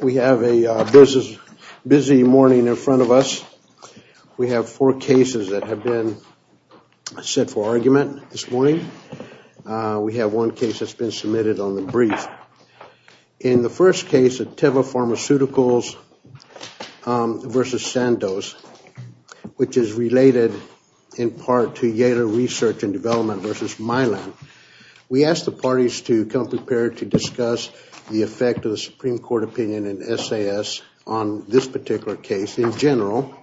We have a busy morning in front of us. We have four cases that have been set for argument this morning. We have one case that's been submitted on the brief. In the first case of Teva Pharmaceuticals v. Sandoz, which is related in part to Yale Research and Development v. Milan, we asked the parties to come prepared to discuss the effect of the Supreme Court opinion and SAS on this particular case in general,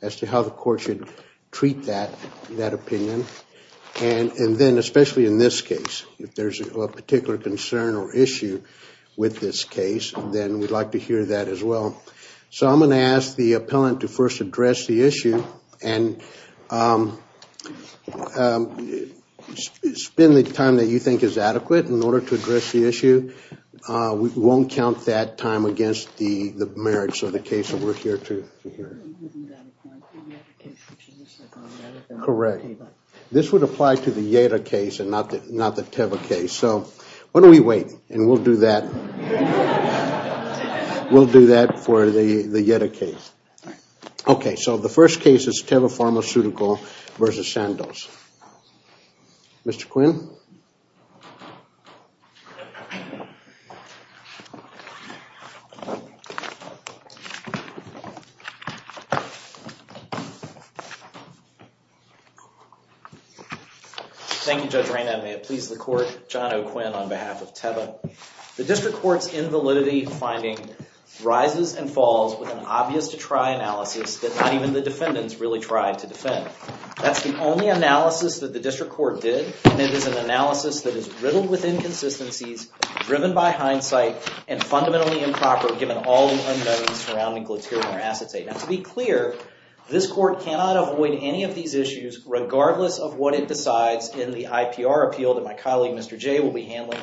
as to how the court should treat that opinion. And then, especially in this case, if there's a particular concern or issue with this case, then we'd like to hear that as well. So I'm going to ask the appellant to first address the issue and spend the time that you think is adequate in order to address the issue. We won't count that time against the merits of the case that we're here to hear. Correct. This would apply to the Yeda case and not the Teva case. So why don't we wait, and we'll do that for the Yeda case. Okay, so the first case is Teva Pharmaceuticals v. Sandoz. Mr. Quinn? Thank you, Judge Reynad. May it please the court, John O'Quinn on behalf of Teva. The district court's invalidity finding rises and falls with an obvious to try analysis that not even the defendants really tried to defend. That's the only analysis that the district court did. And it is an analysis that is riddled with inconsistencies, driven by hindsight, and fundamentally improper given all the unknowns surrounding glutarin or acetate. Now, to be clear, this court cannot avoid any of these issues regardless of what it decides in the IPR appeal that my colleague Mr. J will be handling.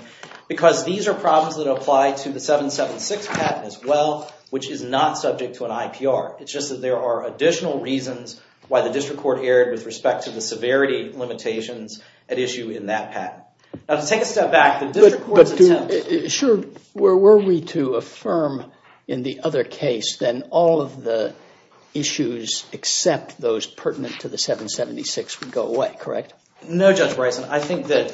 Because these are problems that apply to the 776 patent as well, which is not subject to an IPR. It's just that there are additional reasons why the district court erred with respect to the severity limitations at issue in that patent. Now, to take a step back, the district court's intent... Sure, were we to affirm in the other case then all of the issues except those pertinent to the 776 would go away, correct? No, Judge Bryson. I think that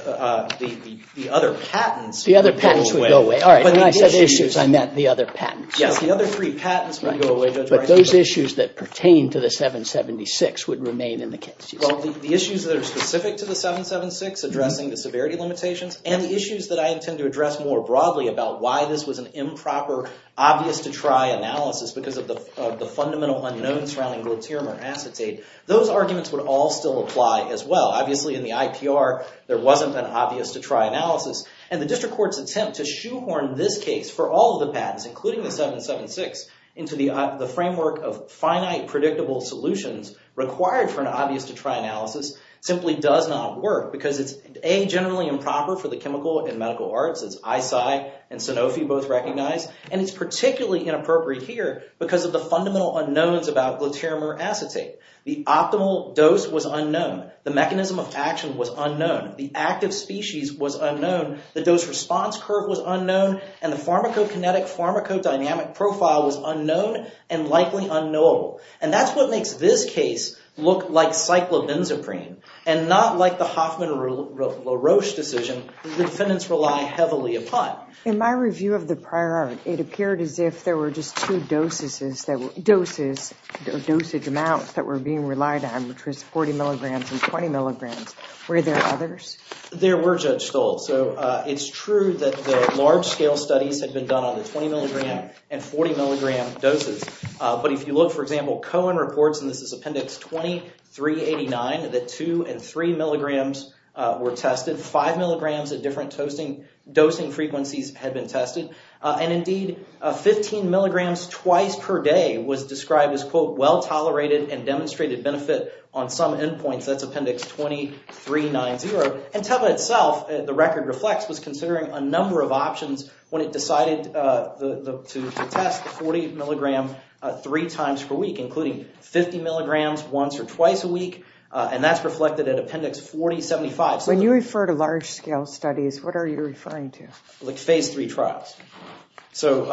the other patents would go away. The other patents would go away. All right, when I said issues, I meant the other patents. Yes, the other three patents would go away, Judge Bryson. Those issues that pertain to the 776 would remain in the case. Well, the issues that are specific to the 776, addressing the severity limitations, and the issues that I intend to address more broadly about why this was an improper, obvious-to-try analysis because of the fundamental unknowns surrounding glutarin or acetate, those arguments would all still apply as well. Obviously, in the IPR, there wasn't an obvious-to-try analysis. And the district court's attempt to shoehorn this case for all of the patents, including the 776, into the framework of finite, predictable solutions required for an obvious-to-try analysis simply does not work because it's, A, generally improper for the chemical and medical arts, as ISI and Sanofi both recognize, and it's particularly inappropriate here because of the fundamental unknowns about glutarin or acetate. The optimal dose was unknown. The mechanism of action was unknown. The active species was unknown. The dose-response curve was unknown. And the pharmacokinetic-pharmacodynamic profile was unknown and likely unknowable. And that's what makes this case look like cyclobenzaprine and not like the Hoffman-LaRoche decision that the defendants rely heavily upon. In my review of the prior art, it appeared as if there were just two doses, dosage amounts that were being relied on, which was 40 milligrams and 20 milligrams. Were there others? There were, Judge Stolz. So it's true that the large-scale studies had been done on the 20-milligram and 40-milligram doses. But if you look, for example, Cohen reports, and this is Appendix 2389, that two and three milligrams were tested. Five milligrams at different dosing frequencies had been tested. and demonstrated benefit on some endpoints. That's Appendix 2390. And TEPA itself, the record reflects, was considering a number of options when it decided to test the 40-milligram three times per week, including 50 milligrams once or twice a week. And that's reflected in Appendix 4075. When you refer to large-scale studies, what are you referring to? Like Phase III trials. So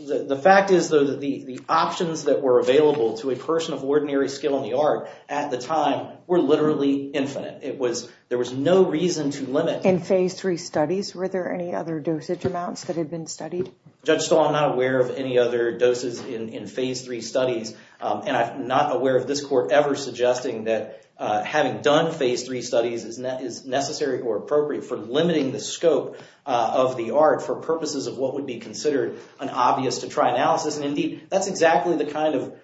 the fact is, though, that the options that were available to a person of ordinary skill in the art at the time were literally infinite. There was no reason to limit. In Phase III studies, were there any other dosage amounts that had been studied? Judge Stolz, I'm not aware of any other doses in Phase III studies. And I'm not aware of this court ever suggesting that having done Phase III studies is necessary or appropriate for limiting the scope of the art for purposes of what would be considered an obvious-to-try analysis. And indeed, that's exactly the kind of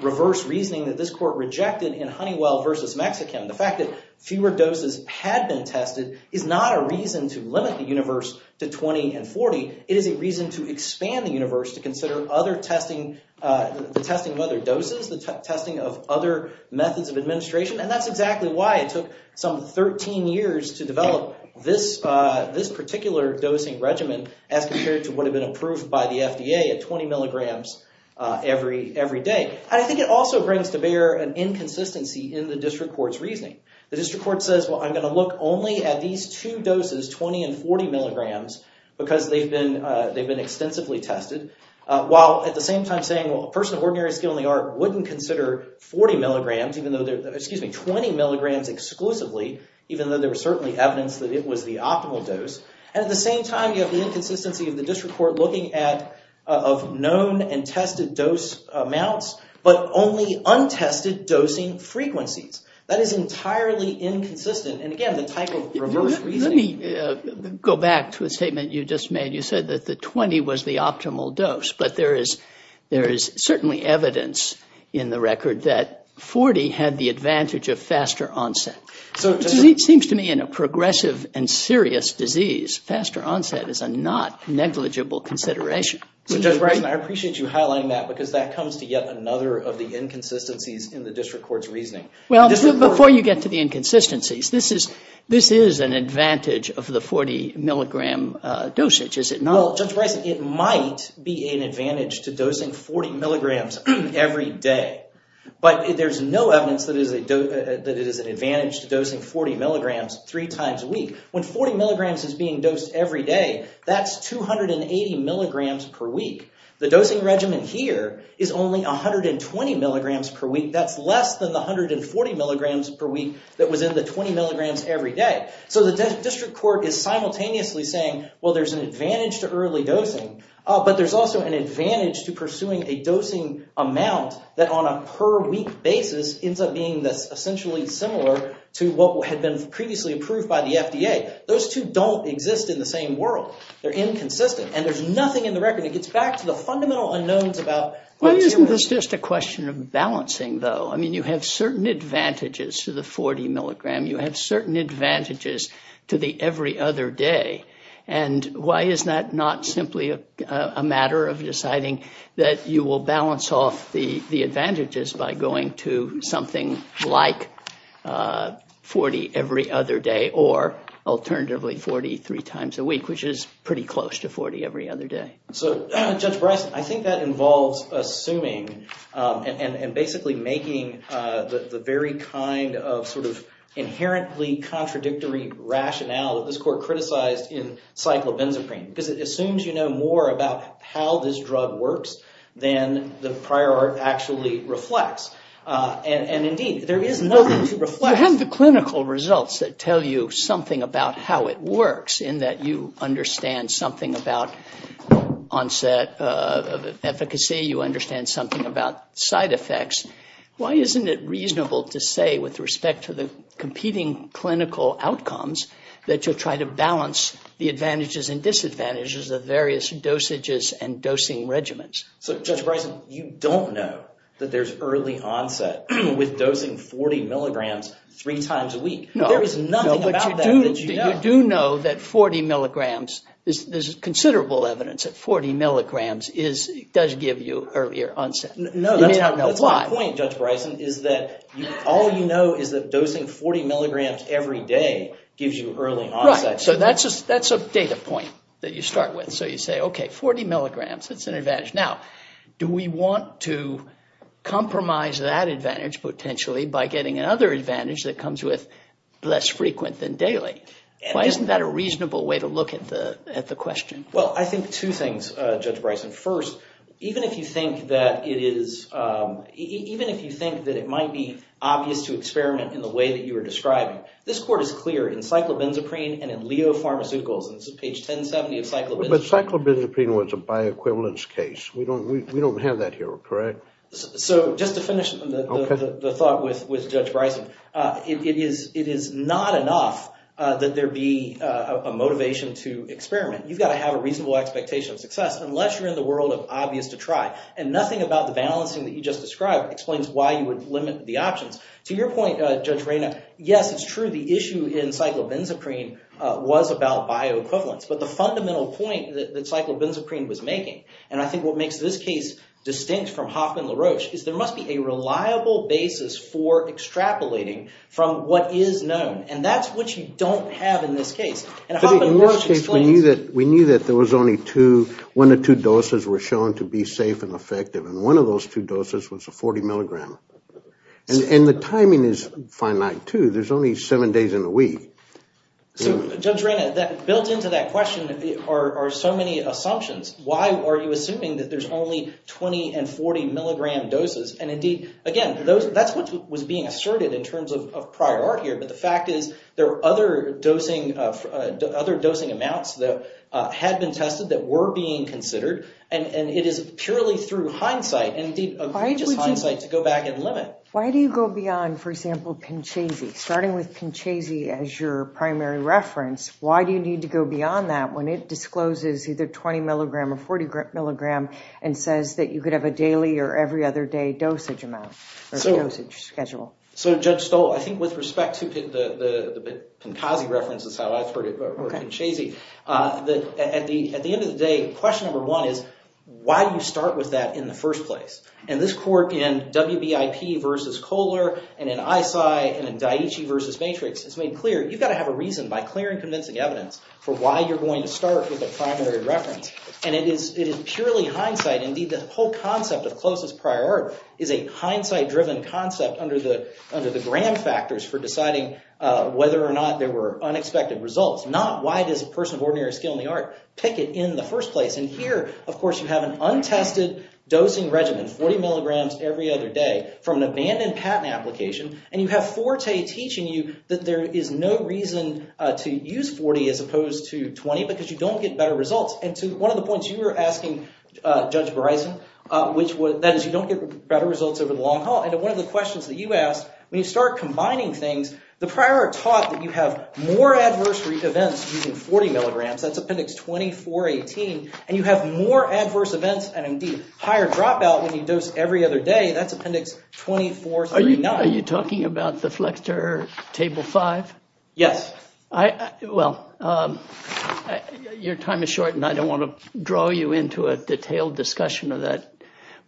reverse reasoning that this court rejected in Honeywell v. Mexican. The fact that fewer doses had been tested is not a reason to limit the universe to 20 and 40. It is a reason to expand the universe to consider other testing, the testing of other doses, the testing of other methods of administration. And that's exactly why it took some 13 years to develop this particular dosing regimen as compared to what had been approved by the FDA at 20 milligrams every day. And I think it also brings to bear an inconsistency in the district court's reasoning. The district court says, well, I'm going to look only at these two doses, 20 and 40 milligrams, because they've been extensively tested, while at the same time saying, well, a person of ordinary skill in the art wouldn't consider 20 milligrams exclusively, even though there was certainly evidence that it was the optimal dose. And at the same time, you have the inconsistency of the district court looking at known and tested dose amounts, but only untested dosing frequencies. That is entirely inconsistent, and again, the type of reverse reasoning... Let me go back to a statement you just made. You said that the 20 was the optimal dose, but there is certainly evidence in the record that 40 had the advantage of faster onset. It seems to me in a progressive and serious disease, faster onset is a not negligible consideration. So Judge Bryson, I appreciate you highlighting that, because that comes to yet another of the inconsistencies in the district court's reasoning. Well, before you get to the inconsistencies, this is an advantage of the 40 milligram dosage, is it not? Well, Judge Bryson, it might be an advantage to dosing 40 milligrams every day, but there's no evidence that it is an advantage to dosing 40 milligrams three times a week. When 40 milligrams is being dosed every day, that's 280 milligrams per week. The dosing regimen here is only 120 milligrams per week. That's less than the 140 milligrams per week that was in the 20 milligrams every day. So the district court is simultaneously saying, well, there's an advantage to early dosing, but there's also an advantage to pursuing a dosing amount that on a per week basis ends up being essentially similar to what had been previously approved by the FDA. Those two don't exist in the same world. They're inconsistent, and there's nothing in the record. It gets back to the fundamental unknowns about... Well, isn't this just a question of balancing, though? I mean, you have certain advantages to the 40 milligram. You have certain advantages to the every other day. And why is that not simply a matter of deciding that you will balance off the advantages by going to something like 40 every other day or, alternatively, 43 times a week, which is pretty close to 40 every other day. So, Judge Bryson, I think that involves assuming and basically making the very kind of sort of inherently contradictory rationale that this court criticized in cyclobenzaprine because it assumes you know more about how this drug works than the prior art actually reflects. And, indeed, there is nothing to reflect. You have the clinical results that tell you something about how it works in that you understand something about onset efficacy. You understand something about side effects. Why isn't it reasonable to say, with respect to the competing clinical outcomes, that you'll try to balance the advantages and disadvantages of various dosages and dosing regimens? So, Judge Bryson, you don't know that there's early onset with dosing 40 milligrams three times a week. There is nothing about that that you know. You do know that 40 milligrams, there's considerable evidence that 40 milligrams does give you earlier onset. You may not know why. That's my point, Judge Bryson, is that all you know is that dosing 40 milligrams every day gives you early onset. Right. So that's a data point that you start with. So you say, okay, 40 milligrams, that's an advantage. Now, do we want to compromise that advantage, potentially, by getting another advantage that comes with less frequent than daily? Why isn't that a reasonable way to look at the question? Well, I think two things, Judge Bryson. First, even if you think that it might be obvious to experiment in the way that you are describing, this court is clear in cyclobenzaprine and in leopharmaceuticals, and this is page 1070 of cyclobenzaprine. But cyclobenzaprine was a bioequivalence case. We don't have that here, correct? Correct. So just to finish the thought with Judge Bryson, it is not enough that there be a motivation to experiment. You've got to have a reasonable expectation of success unless you're in the world of obvious to try, and nothing about the balancing that you just described explains why you would limit the options. To your point, Judge Reyna, yes, it's true the issue in cyclobenzaprine was about bioequivalence, but the fundamental point that cyclobenzaprine was making, and I think what makes this case distinct from Hoffman-LaRoche, is there must be a reliable basis for extrapolating from what is known, and that's what you don't have in this case. In LaRoche's case, we knew that there was only one or two doses were shown to be safe and effective, and one of those two doses was a 40 milligram, and the timing is finite, too. There's only seven days in the week. So, Judge Reyna, built into that question are so many assumptions. Why are you assuming that there's only 20 and 40 milligram doses? And, indeed, again, that's what was being asserted in terms of prior art here, but the fact is there are other dosing amounts that had been tested that were being considered, and it is purely through hindsight and, indeed, egregious hindsight to go back and limit. Why do you go beyond, for example, Pinchese? Starting with Pinchese as your primary reference, why do you need to go beyond that when it discloses either 20 milligram or 40 milligram and says that you could have a daily or every other day dosage amount or dosage schedule? So, Judge Stoll, I think with respect to the Pinchese reference, that's how I've heard it, or Pinchese, at the end of the day, question number one is why do you start with that in the first place? And this court in WBIP versus Kohler and in ISI and in Daiichi versus Matrix has made clear you've got to have a reason, by clear and convincing evidence, for why you're going to start with a primary reference. And it is purely hindsight. Indeed, the whole concept of closest prior art is a hindsight-driven concept under the Graham factors for deciding whether or not there were unexpected results, not why does a person of ordinary skill in the art pick it in the first place. And here, of course, you have an untested dosing regimen, 40 milligrams every other day, from an abandoned patent application, and you have Forte teaching you that there is no reason to use 40 as opposed to 20 because you don't get better results. And to one of the points you were asking, Judge Bryson, that is you don't get better results over the long haul. And one of the questions that you asked, when you start combining things, the prior art taught that you have more adverse events using 40 milligrams, that's Appendix 2418, and you have more adverse events and, indeed, higher dropout when you dose every other day, that's Appendix 2439. Are you talking about the Flexter Table 5? Yes. Well, your time is short, and I don't want to draw you into a detailed discussion of that,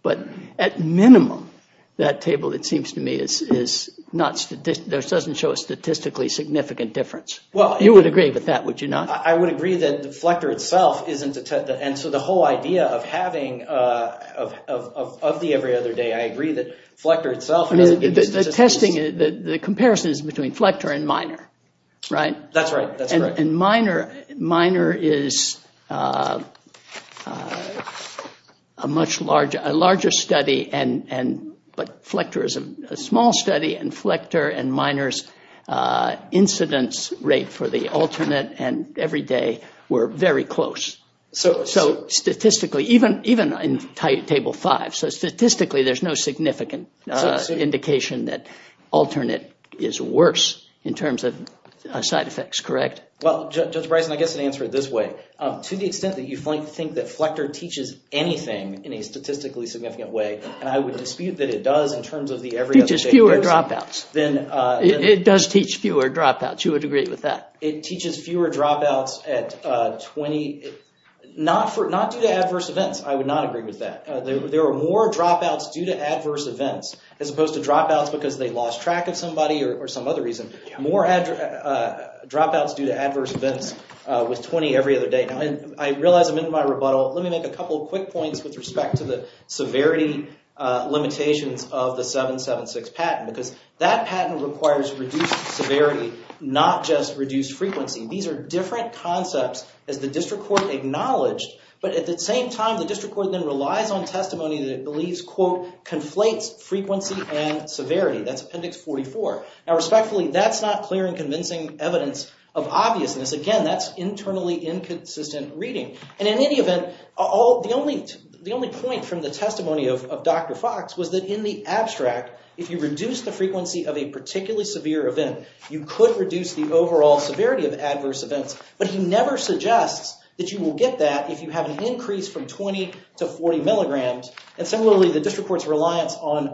but at minimum, that table, it seems to me, doesn't show a statistically significant difference. You would agree with that, would you not? I would agree that the Flexter itself isn't, and so the whole idea of having, of the every other day, I agree that Flexter itself doesn't give you statistics. The comparison is between Flexter and Miner, right? That's right. And Miner is a much larger study, but Flexter is a small study, and Miner's incidence rate for the alternate and every day were very close. So statistically, even in Table 5, so statistically there's no significant indication that alternate is worse in terms of side effects, correct? Well, Judge Bryson, I guess I'd answer it this way. To the extent that you think that Flexter teaches anything in a statistically significant way, and I would dispute that it does in terms of the every other day. It teaches fewer dropouts. It does teach fewer dropouts. You would agree with that? It teaches fewer dropouts at 20, not due to adverse events. I would not agree with that. There are more dropouts due to adverse events, as opposed to dropouts because they lost track of somebody or some other reason. More dropouts due to adverse events with 20 every other day. I realize I'm in my rebuttal. Let me make a couple of quick points with respect to the severity limitations of the 776 patent because that patent requires reduced severity, not just reduced frequency. These are different concepts as the district court acknowledged, but at the same time, the district court then relies on testimony that it believes, quote, conflates frequency and severity. That's Appendix 44. Now respectfully, that's not clear and convincing evidence of obviousness. Again, that's internally inconsistent reading. In any event, the only point from the testimony of Dr. Fox was that in the abstract, if you reduce the frequency of a particularly severe event, you could reduce the overall severity of adverse events, but he never suggests that you will get that if you have an increase from 20 to 40 milligrams. Similarly, the district court's reliance on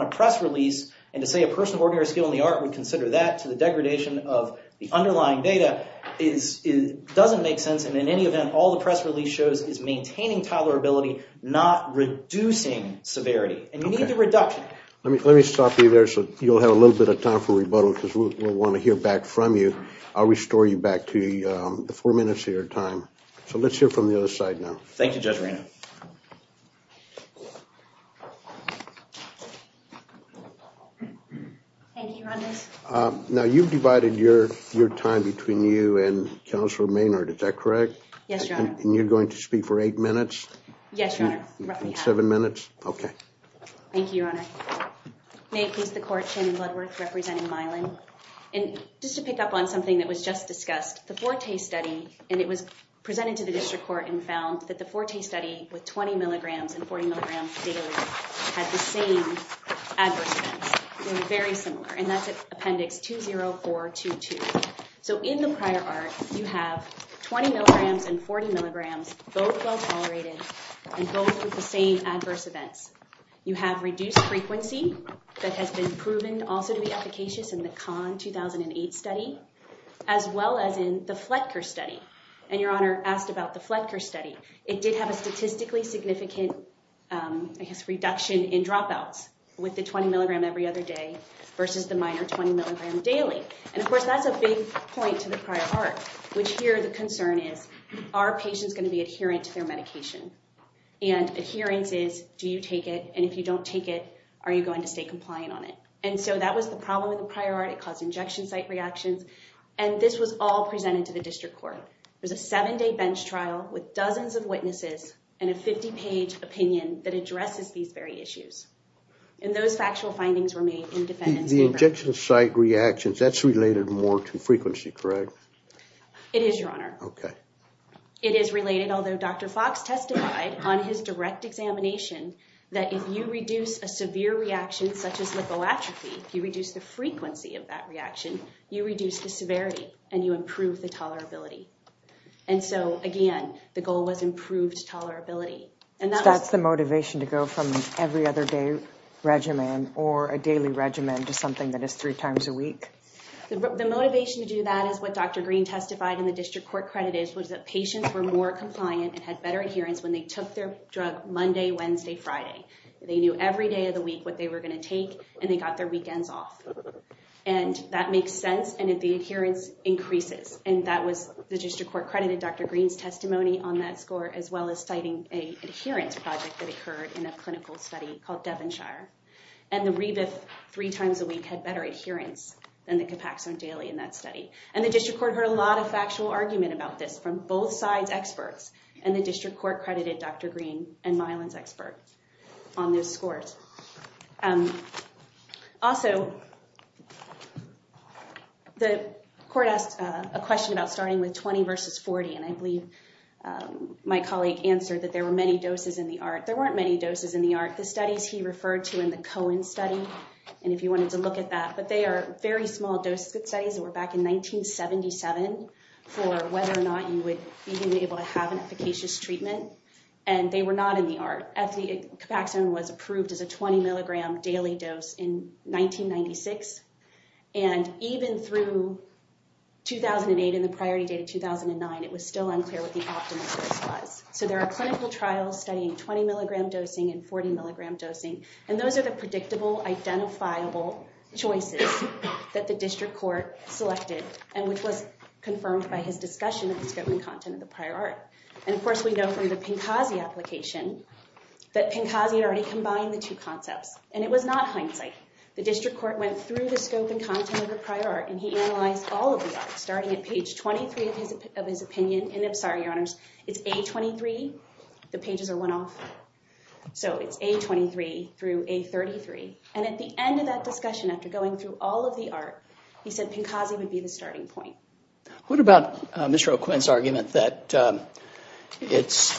a press release, and to say a person of ordinary skill in the art would consider that to the degradation of the underlying data doesn't make sense. In any event, all the press release shows is maintaining tolerability, not reducing severity, and you need the reduction. Let me stop you there so you'll have a little bit of time for rebuttal because we'll want to hear back from you. I'll restore you back to the four minutes of your time. So let's hear from the other side now. Thank you, Judge Reynolds. Now you've divided your time between you and Counselor Maynard. Is that correct? Yes, Your Honor. And you're going to speak for eight minutes? Yes, Your Honor. Roughly half. Seven minutes? Okay. Thank you, Your Honor. May it please the Court, Shannon Bloodworth representing Mylan. And just to pick up on something that was just discussed, the Forte study, and it was presented to the district court and found that the Forte study with 20 milligrams and 40 milligrams daily had the same adverse events. They were very similar, and that's Appendix 20422. So in the prior art, you have 20 milligrams and 40 milligrams, both well-tolerated and both with the same adverse events. You have reduced frequency that has been proven also to be efficacious in the Kahn 2008 study, as well as in the Fletcher study. And Your Honor asked about the Fletcher study. It did have a statistically significant, I guess, reduction in dropouts with the 20 milligram every other day versus the minor 20 milligram daily. And, of course, that's a big point to the prior art, which here the concern is, are patients going to be adherent to their medication? And adherence is, do you take it? And if you don't take it, are you going to stay compliant on it? And so that was the problem with the prior art. It caused injection site reactions. And this was all presented to the district court. It was a seven-day bench trial with dozens of witnesses and a 50-page opinion that addresses these very issues. And those factual findings were made in defendant's favor. The injection site reactions, that's related more to frequency, correct? It is, Your Honor. Okay. It is related, although Dr. Fox testified on his direct examination that if you reduce a severe reaction such as lipoatrophy, if you reduce the frequency of that reaction, you reduce the severity and you improve the tolerability. And so, again, the goal was improved tolerability. So that's the motivation to go from every other day regimen or a daily regimen to something that is three times a week? The motivation to do that is what Dr. Green testified in the district court credit is, which is that patients were more compliant and had better adherence when they took their drug Monday, Wednesday, Friday. They knew every day of the week what they were going to take, and they got their weekends off. And that makes sense, and the adherence increases. And that was the district court credit in Dr. Green's testimony on that score as well as citing an adherence project that occurred in a clinical study called Devonshire. And the Rebif three times a week had better adherence than the Capaxone daily in that study. And the district court heard a lot of factual argument about this from both sides' experts, and the district court credited Dr. Green and Myelin's expert on those scores. Also, the court asked a question about starting with 20 versus 40, and I believe my colleague answered that there were many doses in the ART. There weren't many doses in the ART. The studies he referred to in the Cohen study, and if you wanted to look at that, but they are very small dose studies that were back in 1977 for whether or not you would even be able to have an efficacious treatment, and they were not in the ART. Capaxone was approved as a 20 milligram daily dose in 1996, and even through 2008 and the priority date of 2009, it was still unclear what the optimum dose was. So there are clinical trials studying 20 milligram dosing and 40 milligram dosing, and those are the predictable, identifiable choices that the district court selected and which was confirmed by his discussion of the scope and content of the prior ART. And, of course, we know from the Pincazi application that Pincazi already combined the two concepts, and it was not hindsight. The district court went through the scope and content of the prior ART, and he analyzed all of the ART starting at page 23 of his opinion. And I'm sorry, Your Honors, it's A23. The pages are one off. So it's A23 through A33. And at the end of that discussion, after going through all of the ART, he said Pincazi would be the starting point. What about Mr. O'Quinn's argument that it's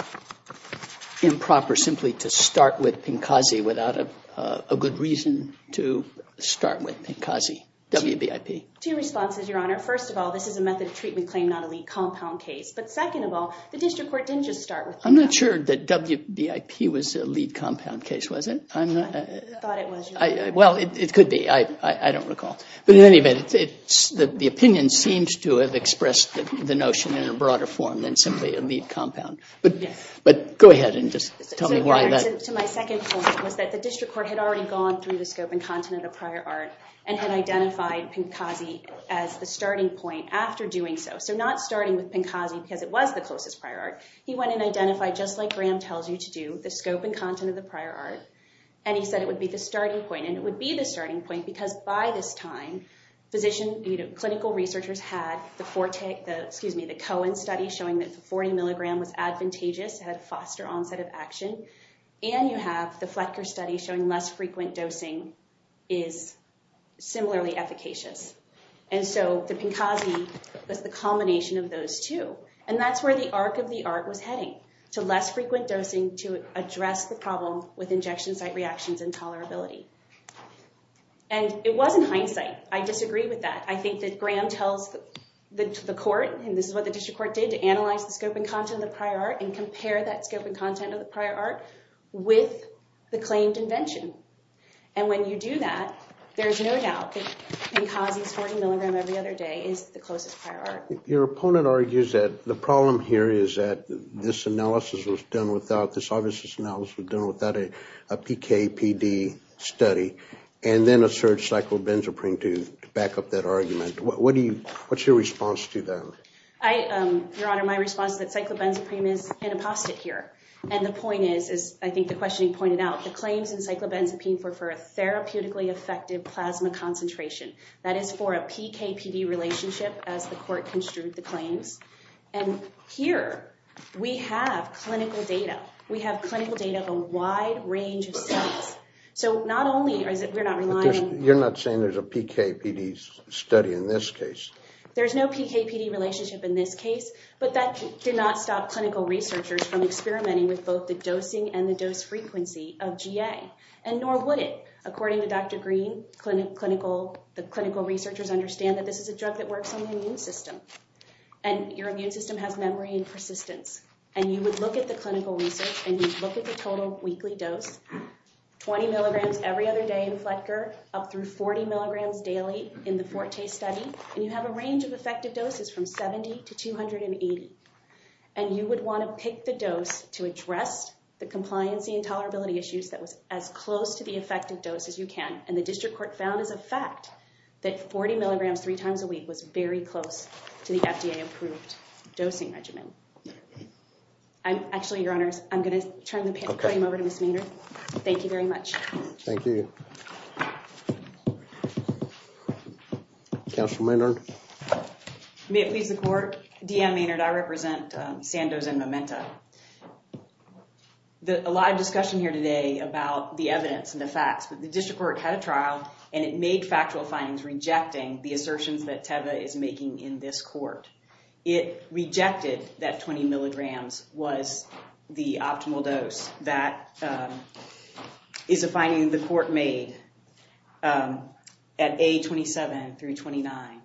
improper simply to start with Pincazi without a good reason to start with Pincazi, WBIP? Two responses, Your Honor. First of all, this is a method of treatment claim, not a lead compound case. But second of all, the district court didn't just start with Pincazi. I'm not sure that WBIP was a lead compound case, was it? I thought it was, Your Honor. Well, it could be. I don't recall. But in any event, the opinion seems to have expressed the notion in a broader form than simply a lead compound. But go ahead and just tell me why that is. To my second point was that the district court had already gone through the scope and content of the prior ART and had identified Pincazi as the starting point after doing so. So not starting with Pincazi because it was the closest prior ART. He went and identified, just like Graham tells you to do, the scope and content of the prior ART. And he said it would be the starting point. And it would be the starting point because by this time, clinical researchers had the Cohen study showing that the 40 milligram was effective and you have the Fletcher study showing less frequent dosing is similarly efficacious. And so the Pincazi was the culmination of those two. And that's where the arc of the ART was heading, to less frequent dosing to address the problem with injection site reactions and tolerability. And it wasn't hindsight. I disagree with that. I think that Graham tells the court, and this is what the district court did, to analyze the scope and content of the prior ART and compare that scope and content with the claimed invention. And when you do that, there's no doubt that Pincazi's 40 milligram every other day is the closest prior ART. Your opponent argues that the problem here is that this analysis was done without, this obvious analysis was done without a PKPD study and then asserts cyclobenzaprine to back up that argument. What's your response to that? Your Honor, my response is that cyclobenzaprine is an apostate here. And the point is, as I think the questioning pointed out, the claims in cyclobenzaprine were for a therapeutically effective plasma concentration. That is for a PKPD relationship, as the court construed the claims. And here we have clinical data. We have clinical data of a wide range of cells. So not only is it, we're not relying. You're not saying there's a PKPD study in this case. There's no PKPD relationship in this case, but that did not stop clinical researchers from experimenting with both the dosing and the dose frequency of GA, and nor would it. According to Dr. Green, clinical, the clinical researchers understand that this is a drug that works on the immune system. And your immune system has memory and persistence. And you would look at the clinical research and you'd look at the total weekly dose, 20 milligrams every other day in Fletcher, up through 40 milligrams daily in the Forte study. And you have a range of effective doses from 70 to 280. And you would want to pick the dose to address the compliancy and tolerability issues that was as close to the effective dose as you can. And the district court found as a fact that 40 milligrams three times a week was very close to the FDA approved dosing regimen. I'm actually your honors. I'm going to turn the podium over to Ms. Maynard. Thank you very much. Thank you. Thank you. Counsel Maynard. May it please the court. DM Maynard. I represent Sandoz and Memento. A lot of discussion here today about the evidence and the facts, but the district court had a trial and it made factual findings rejecting the assertions that Teva is making in this court. It rejected that 20 milligrams was the optimal dose. That is a finding the court made at A27 through 29.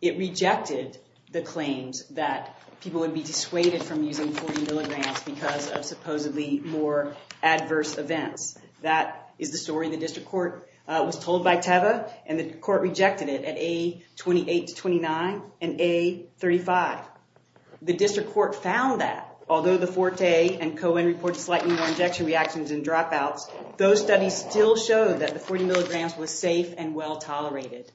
It rejected the claims that people would be dissuaded from using 40 milligrams because of supposedly more adverse events. That is the story the district court was told by Teva and the court rejected it at A28 to 29 and A35. The district court found that although the Forte and Cohen reported slightly more injection reactions and dropouts, those studies still showed that the 40 milligrams was safe and well tolerated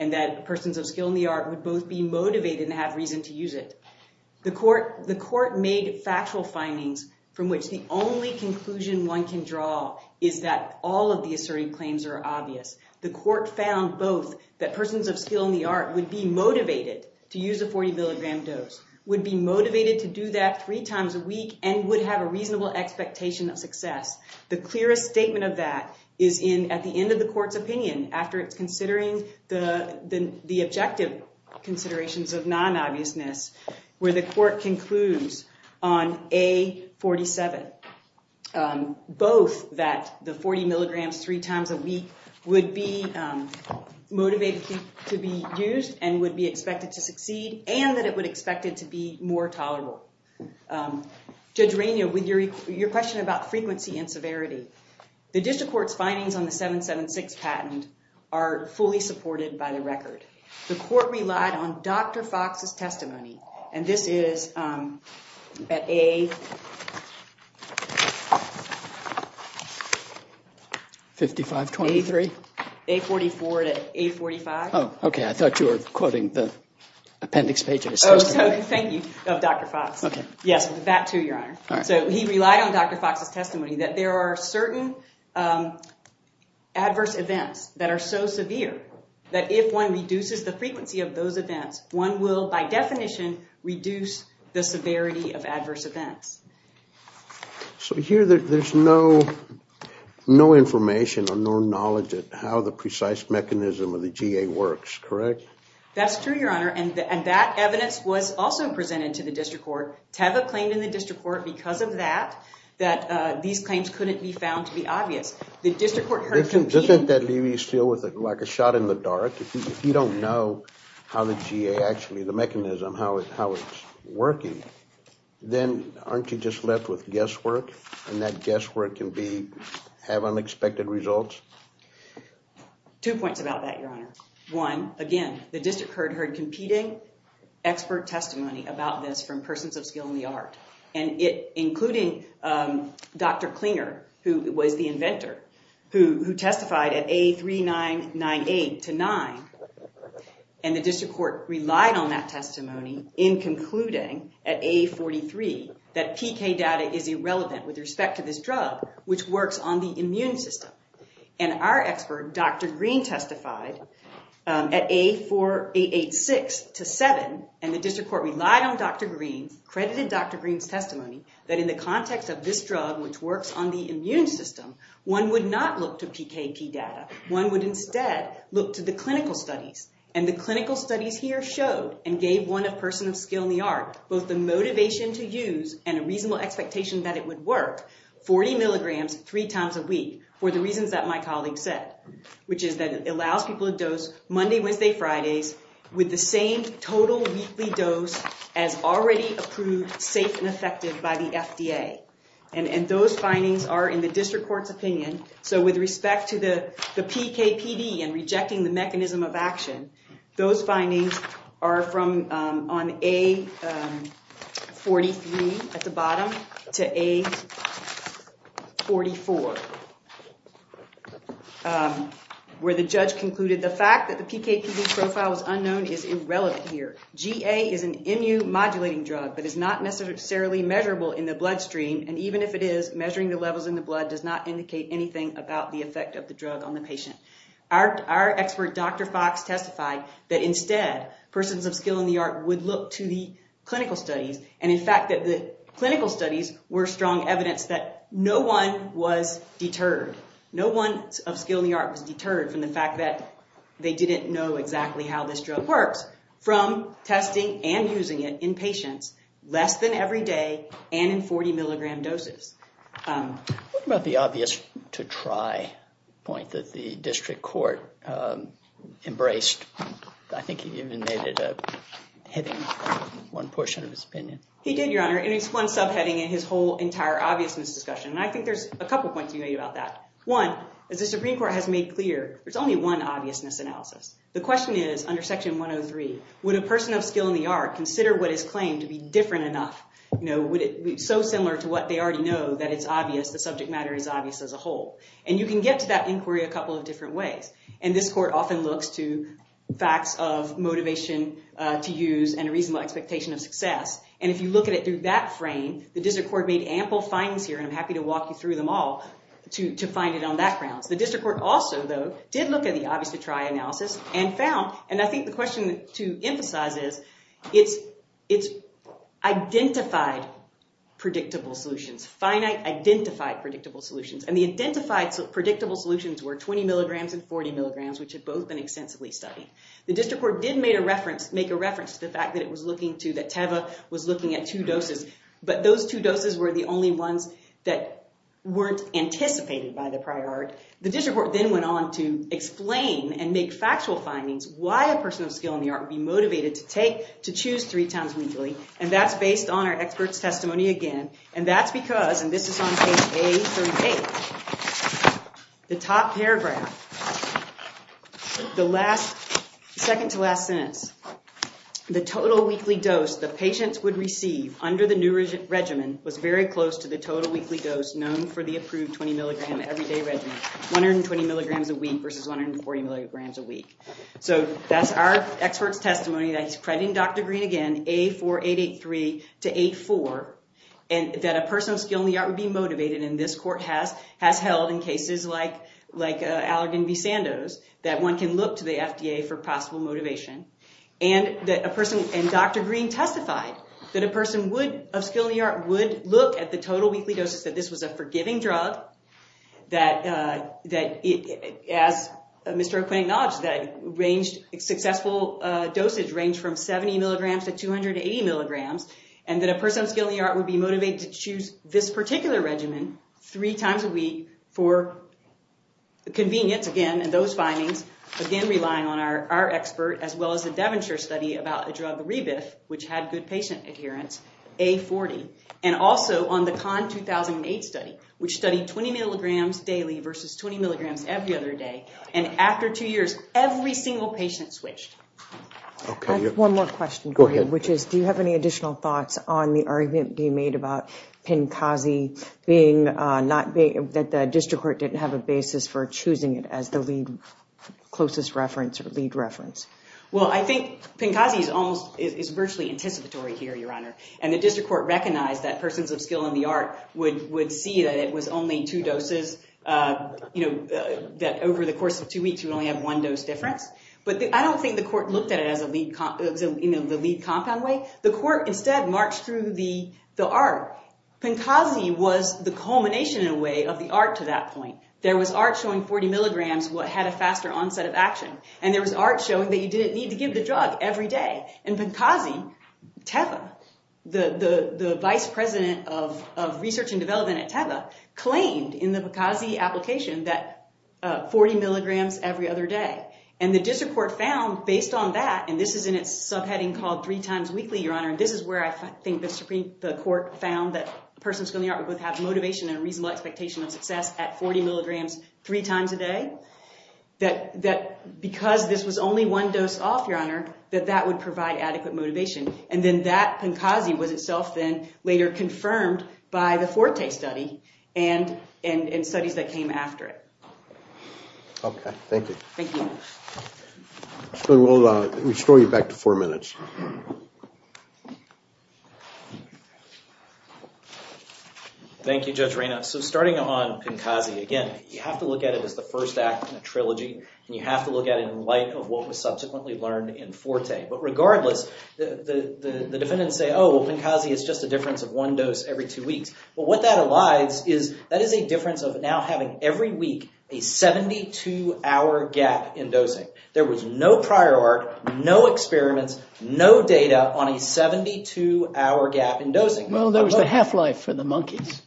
and that persons of skill in the art would both be motivated and have reason to use it. The court made factual findings from which the only conclusion one can draw is that all of the asserting claims are obvious. The court found both that persons of skill in the art would be motivated to use a 40 milligram dose, would be motivated to do that three times a week and would have a reasonable expectation of success. The clearest statement of that is at the end of the court's opinion after it's considering the objective considerations of non-obviousness where the court concludes on A47. Both that the 40 milligrams three times a week would be motivated to be used and would be expected to succeed and that it would be expected to be more tolerable. Judge Rainio, with your question about frequency and severity, the district court's findings on the 776 patent are fully supported by the record. The court relied on Dr. Fox's testimony and this is at A... 5523? A44 to A45. Oh, okay. I thought you were quoting the appendix pages. Oh, so thank you, of Dr. Fox. Okay. Yes, that too, Your Honor. All right. So he relied on Dr. Fox's testimony that there are certain adverse events that are so severe that if one reduces the frequency of those events, one will, by definition, reduce the severity of adverse events. So here there's no information or no knowledge of how the precise mechanism of the GA works, correct? That's true, Your Honor, and that evidence was also presented to the district court. Teva claimed in the district court because of that that these claims couldn't be found to be obvious. The district court heard... Doesn't that leave you still with like a shot in the dark? If you don't know how the GA actually, the mechanism, how it's working, then aren't you just left with guesswork, and that guesswork can be, have unexpected results? Two points about that, Your Honor. One, again, the district court heard competing expert testimony about this from persons of skill in the art, including Dr. Klinger, who was the inventor, who testified at A3998 to 9, and the district court relied on that testimony in concluding at A43 that PK data is irrelevant with respect to this drug, which works on the immune system. Our expert, Dr. Green, testified at A4886 to 7, and the district court relied on Dr. Green, credited Dr. Green's testimony, that in the context of this drug, which works on the immune system, one would not look to PKP data. One would instead look to the clinical studies, and the clinical studies here showed and gave one of persons of skill in the art both the motivation to use and a reasonable expectation that it would work, 40 milligrams three times a week, for the reasons that my colleague said, which is that it allows people to dose Monday, Wednesday, Fridays, with the same total weekly dose as already approved, safe and effective by the FDA, and those findings are in the district court's opinion, so with respect to the PKPD and rejecting the mechanism of action, those findings are on A43, at the bottom, to A44, where the judge concluded, the fact that the PKPD profile is unknown is irrelevant here. GA is an immune-modulating drug, but is not necessarily measurable in the bloodstream, and even if it is, measuring the levels in the blood does not indicate anything about the effect of the drug on the patient. Our expert, Dr. Fox, testified that instead, persons of skill in the art would look to the clinical studies, and in fact that the clinical studies were strong evidence that no one was deterred, no one of skill in the art was deterred from the fact that they didn't know exactly how this drug works, from testing and using it in patients, less than every day, and in 40 milligram doses. What about the obvious to try point that the district court embraced? I think he even made it a heading in one portion of his opinion. He did, Your Honor, and it's one subheading in his whole entire obviousness discussion, and I think there's a couple points he made about that. One, as the Supreme Court has made clear, there's only one obviousness analysis. The question is, under Section 103, would a person of skill in the art consider what is claimed to be different enough? Would it be so similar to what they already know that it's obvious, the subject matter is obvious as a whole? And you can get to that inquiry a couple of different ways, and this court often looks to facts of motivation to use and a reasonable expectation of success, and if you look at it through that frame, the district court made ample findings here, and I'm happy to walk you through them all to find it on that grounds. The district court also, though, did look at the obvious to try analysis and found, and I think the question to emphasize is, it's identified predictable solutions, finite identified predictable solutions, and the identified predictable solutions were 20 milligrams and 40 milligrams, which had both been extensively studied. The district court did make a reference to the fact that it was looking to, that Teva was looking at two doses, but those two doses were the only ones that weren't anticipated by the prior art. The district court then went on to explain and make factual findings why a person of skill in the art would be motivated to take, to choose three times weekly, and that's based on our expert's testimony again, and that's because, and this is on page A38, the top paragraph, the second to last sentence, the total weekly dose the patient would receive under the new regimen was very close to the total weekly dose known for the approved 20 milligram everyday regimen, 120 milligrams a week versus 140 milligrams a week. So that's our expert's testimony that he's crediting Dr. Green again, A4883 to A4, and that a person of skill in the art would be motivated, and this court has held in cases like Allergan v. Sandoz that one can look to the FDA for possible motivation, and that a person, and Dr. Green testified that a person of skill in the art would look at the total weekly doses, that this was a forgiving drug, that as Mr. O'Quinn acknowledged, that successful dosage ranged from 70 milligrams to 280 milligrams, and that a person of skill in the art would be motivated to choose this particular regimen three times a week for convenience, again, and those findings, again, relying on our expert, as well as the Devonshire study about a drug Rebif, which had good patient adherence, A40, and also on the Kahn 2008 study, which studied 20 milligrams daily versus 20 milligrams every other day, and after two years, every single patient switched. I have one more question for you, which is do you have any additional thoughts on the argument being made about Pencasi being not, that the district court didn't have a basis for choosing it as the lead closest reference or lead reference? Well, I think Pencasi is virtually anticipatory here, Your Honor, and the district court recognized that persons of skill in the art would see that it was only two doses, that over the course of two weeks, you only have one dose difference, but I don't think the court looked at it as the lead compound way. The court, instead, marched through the art. Pencasi was the culmination, in a way, of the art to that point. There was art showing 40 milligrams had a faster onset of action, and there was art showing that you didn't need to give the drug every day, and Pencasi, TEVA, the vice president of research and development at TEVA, claimed in the Pencasi application that 40 milligrams every other day, and the district court found, based on that, and this is in its subheading called three times weekly, Your Honor, and this is where I think the court found that persons of skill in the art would have motivation and a reasonable expectation of success at 40 milligrams three times a day, that because this was only one dose off, Your Honor, that that would provide adequate motivation, and then that Pencasi was itself then later confirmed by the Forte study and studies that came after it. Okay. Thank you. Thank you. We'll restore you back to four minutes. Thank you, Judge Reyna. So starting on Pencasi, again, you have to look at it as the first act in a trilogy, and you have to look at it in light of what was subsequently learned in Forte, but regardless, the defendants say, oh, well, Pencasi is just a difference of one dose every two weeks. Well, what that allies is that is a difference of now having every week a 72-hour gap in dosing. There was no prior art, no experiments, no data on a 72-hour gap in dosing. Well, there was the half-life for the monkeys.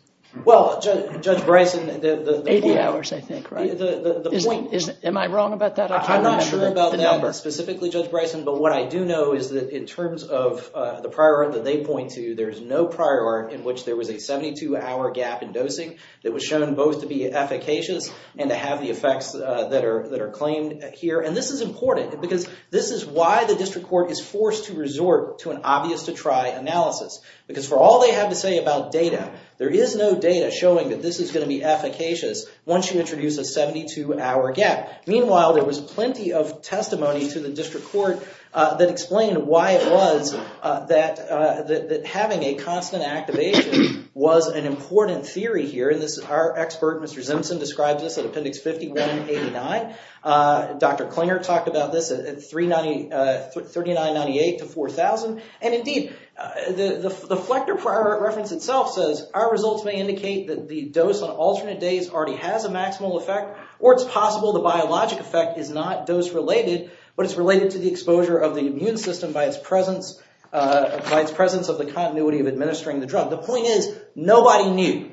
Well, Judge Bryson, the point— 80 hours, I think, right? Am I wrong about that? I'm not sure about that specifically, Judge Bryson, but what I do know is that in terms of the prior art that they point to, there's no prior art in which there was a 72-hour gap in dosing that was shown both to be efficacious and to have the effects that are claimed here, and this is important because this is why the district court is forced to resort to an obvious-to-try analysis because for all they have to say about data, there is no data showing that this is going to be efficacious once you introduce a 72-hour gap. Meanwhile, there was plenty of testimony to the district court that explained why it was that having a constant activation was an important theory here, and our expert, Mr. Zimpson, describes this at Appendix 5189. Dr. Klinger talked about this at 3998 to 4000, and indeed, the Flechter prior art reference itself says, our results may indicate that the dose on alternate days already has a maximal effect, or it's possible the biologic effect is not dose-related, but it's related to the exposure of the immune system by its presence of the continuity of administering the drug. The point is, nobody knew,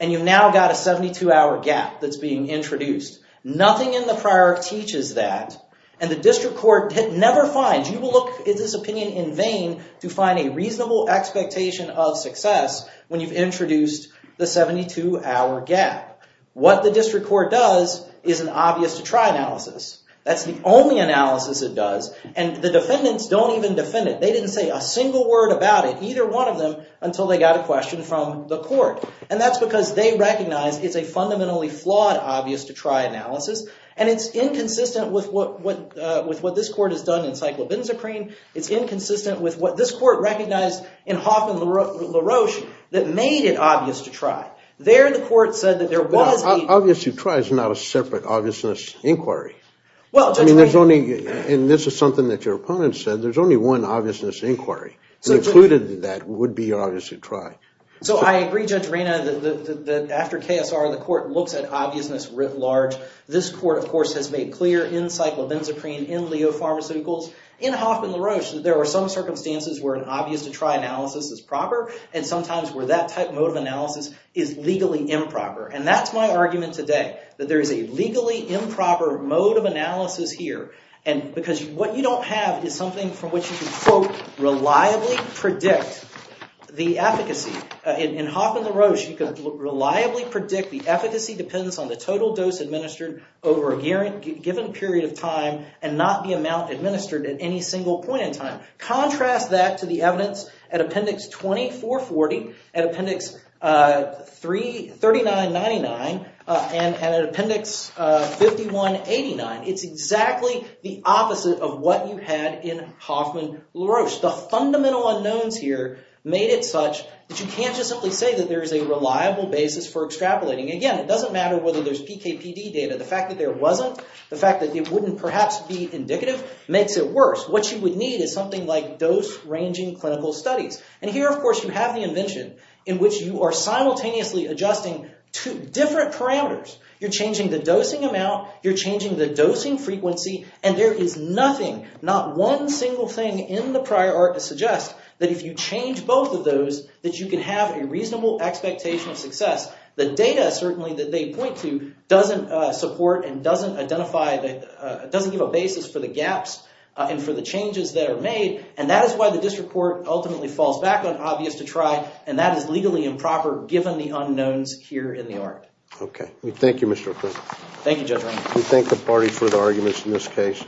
and you've now got a 72-hour gap that's being introduced. Nothing in the prior art teaches that, and the district court never finds, you will look at this opinion in vain to find a reasonable expectation of success when you've introduced the 72-hour gap. What the district court does is an obvious to try analysis. That's the only analysis it does, and the defendants don't even defend it. They didn't say a single word about it, either one of them, until they got a question from the court, and that's because they recognize it's a fundamentally flawed obvious to try analysis, and it's inconsistent with what this court has done in cyclobenzaprine. It's inconsistent with what this court recognized in Hoff and LaRoche that made it obvious to try. There, the court said that there was a... Obvious to try is not a separate obviousness inquiry. I mean, there's only... And this is something that your opponent said. There's only one obviousness inquiry, and included in that would be obvious to try. So I agree, Judge Reina, that after KSR, the court looks at obviousness writ large. This court, of course, has made clear in cyclobenzaprine, in Leo Pharmaceuticals, in Hoff and LaRoche, that there are some circumstances where an obvious to try analysis is proper, and sometimes where that type mode of analysis is legally improper, and that's my argument today, that there is a legally improper mode of analysis here, because what you don't have is something from which you can, quote, reliably predict the efficacy. In Hoff and LaRoche, you can reliably predict the efficacy depends on the total dose administered over a given period of time, and not the amount administered at any single point in time. Contrast that to the evidence at Appendix 2440, at Appendix 3999, and at Appendix 5189. It's exactly the opposite of what you had in Hoff and LaRoche. The fundamental unknowns here made it such that you can't just simply say that there is a reliable basis for extrapolating. Again, it doesn't matter whether there's PKPD data. The fact that there wasn't, the fact that it wouldn't perhaps be indicative, makes it worse. What you would need is something like dose-ranging clinical studies. And here, of course, you have the invention in which you are simultaneously adjusting two different parameters. You're changing the dosing amount, you're changing the dosing frequency, and there is nothing, not one single thing in the prior art to suggest that if you change both of those, that you can have a reasonable expectation of success. The data, certainly, that they point to doesn't support and doesn't identify, doesn't give a basis for the gaps and for the changes that are made, and that is why the District Court ultimately falls back on obvious to try, and that is legally improper, given the unknowns here in the art. Okay. Thank you, Mr. O'Quinn. Thank you, Judge Reynolds. We thank the party for the arguments in this case.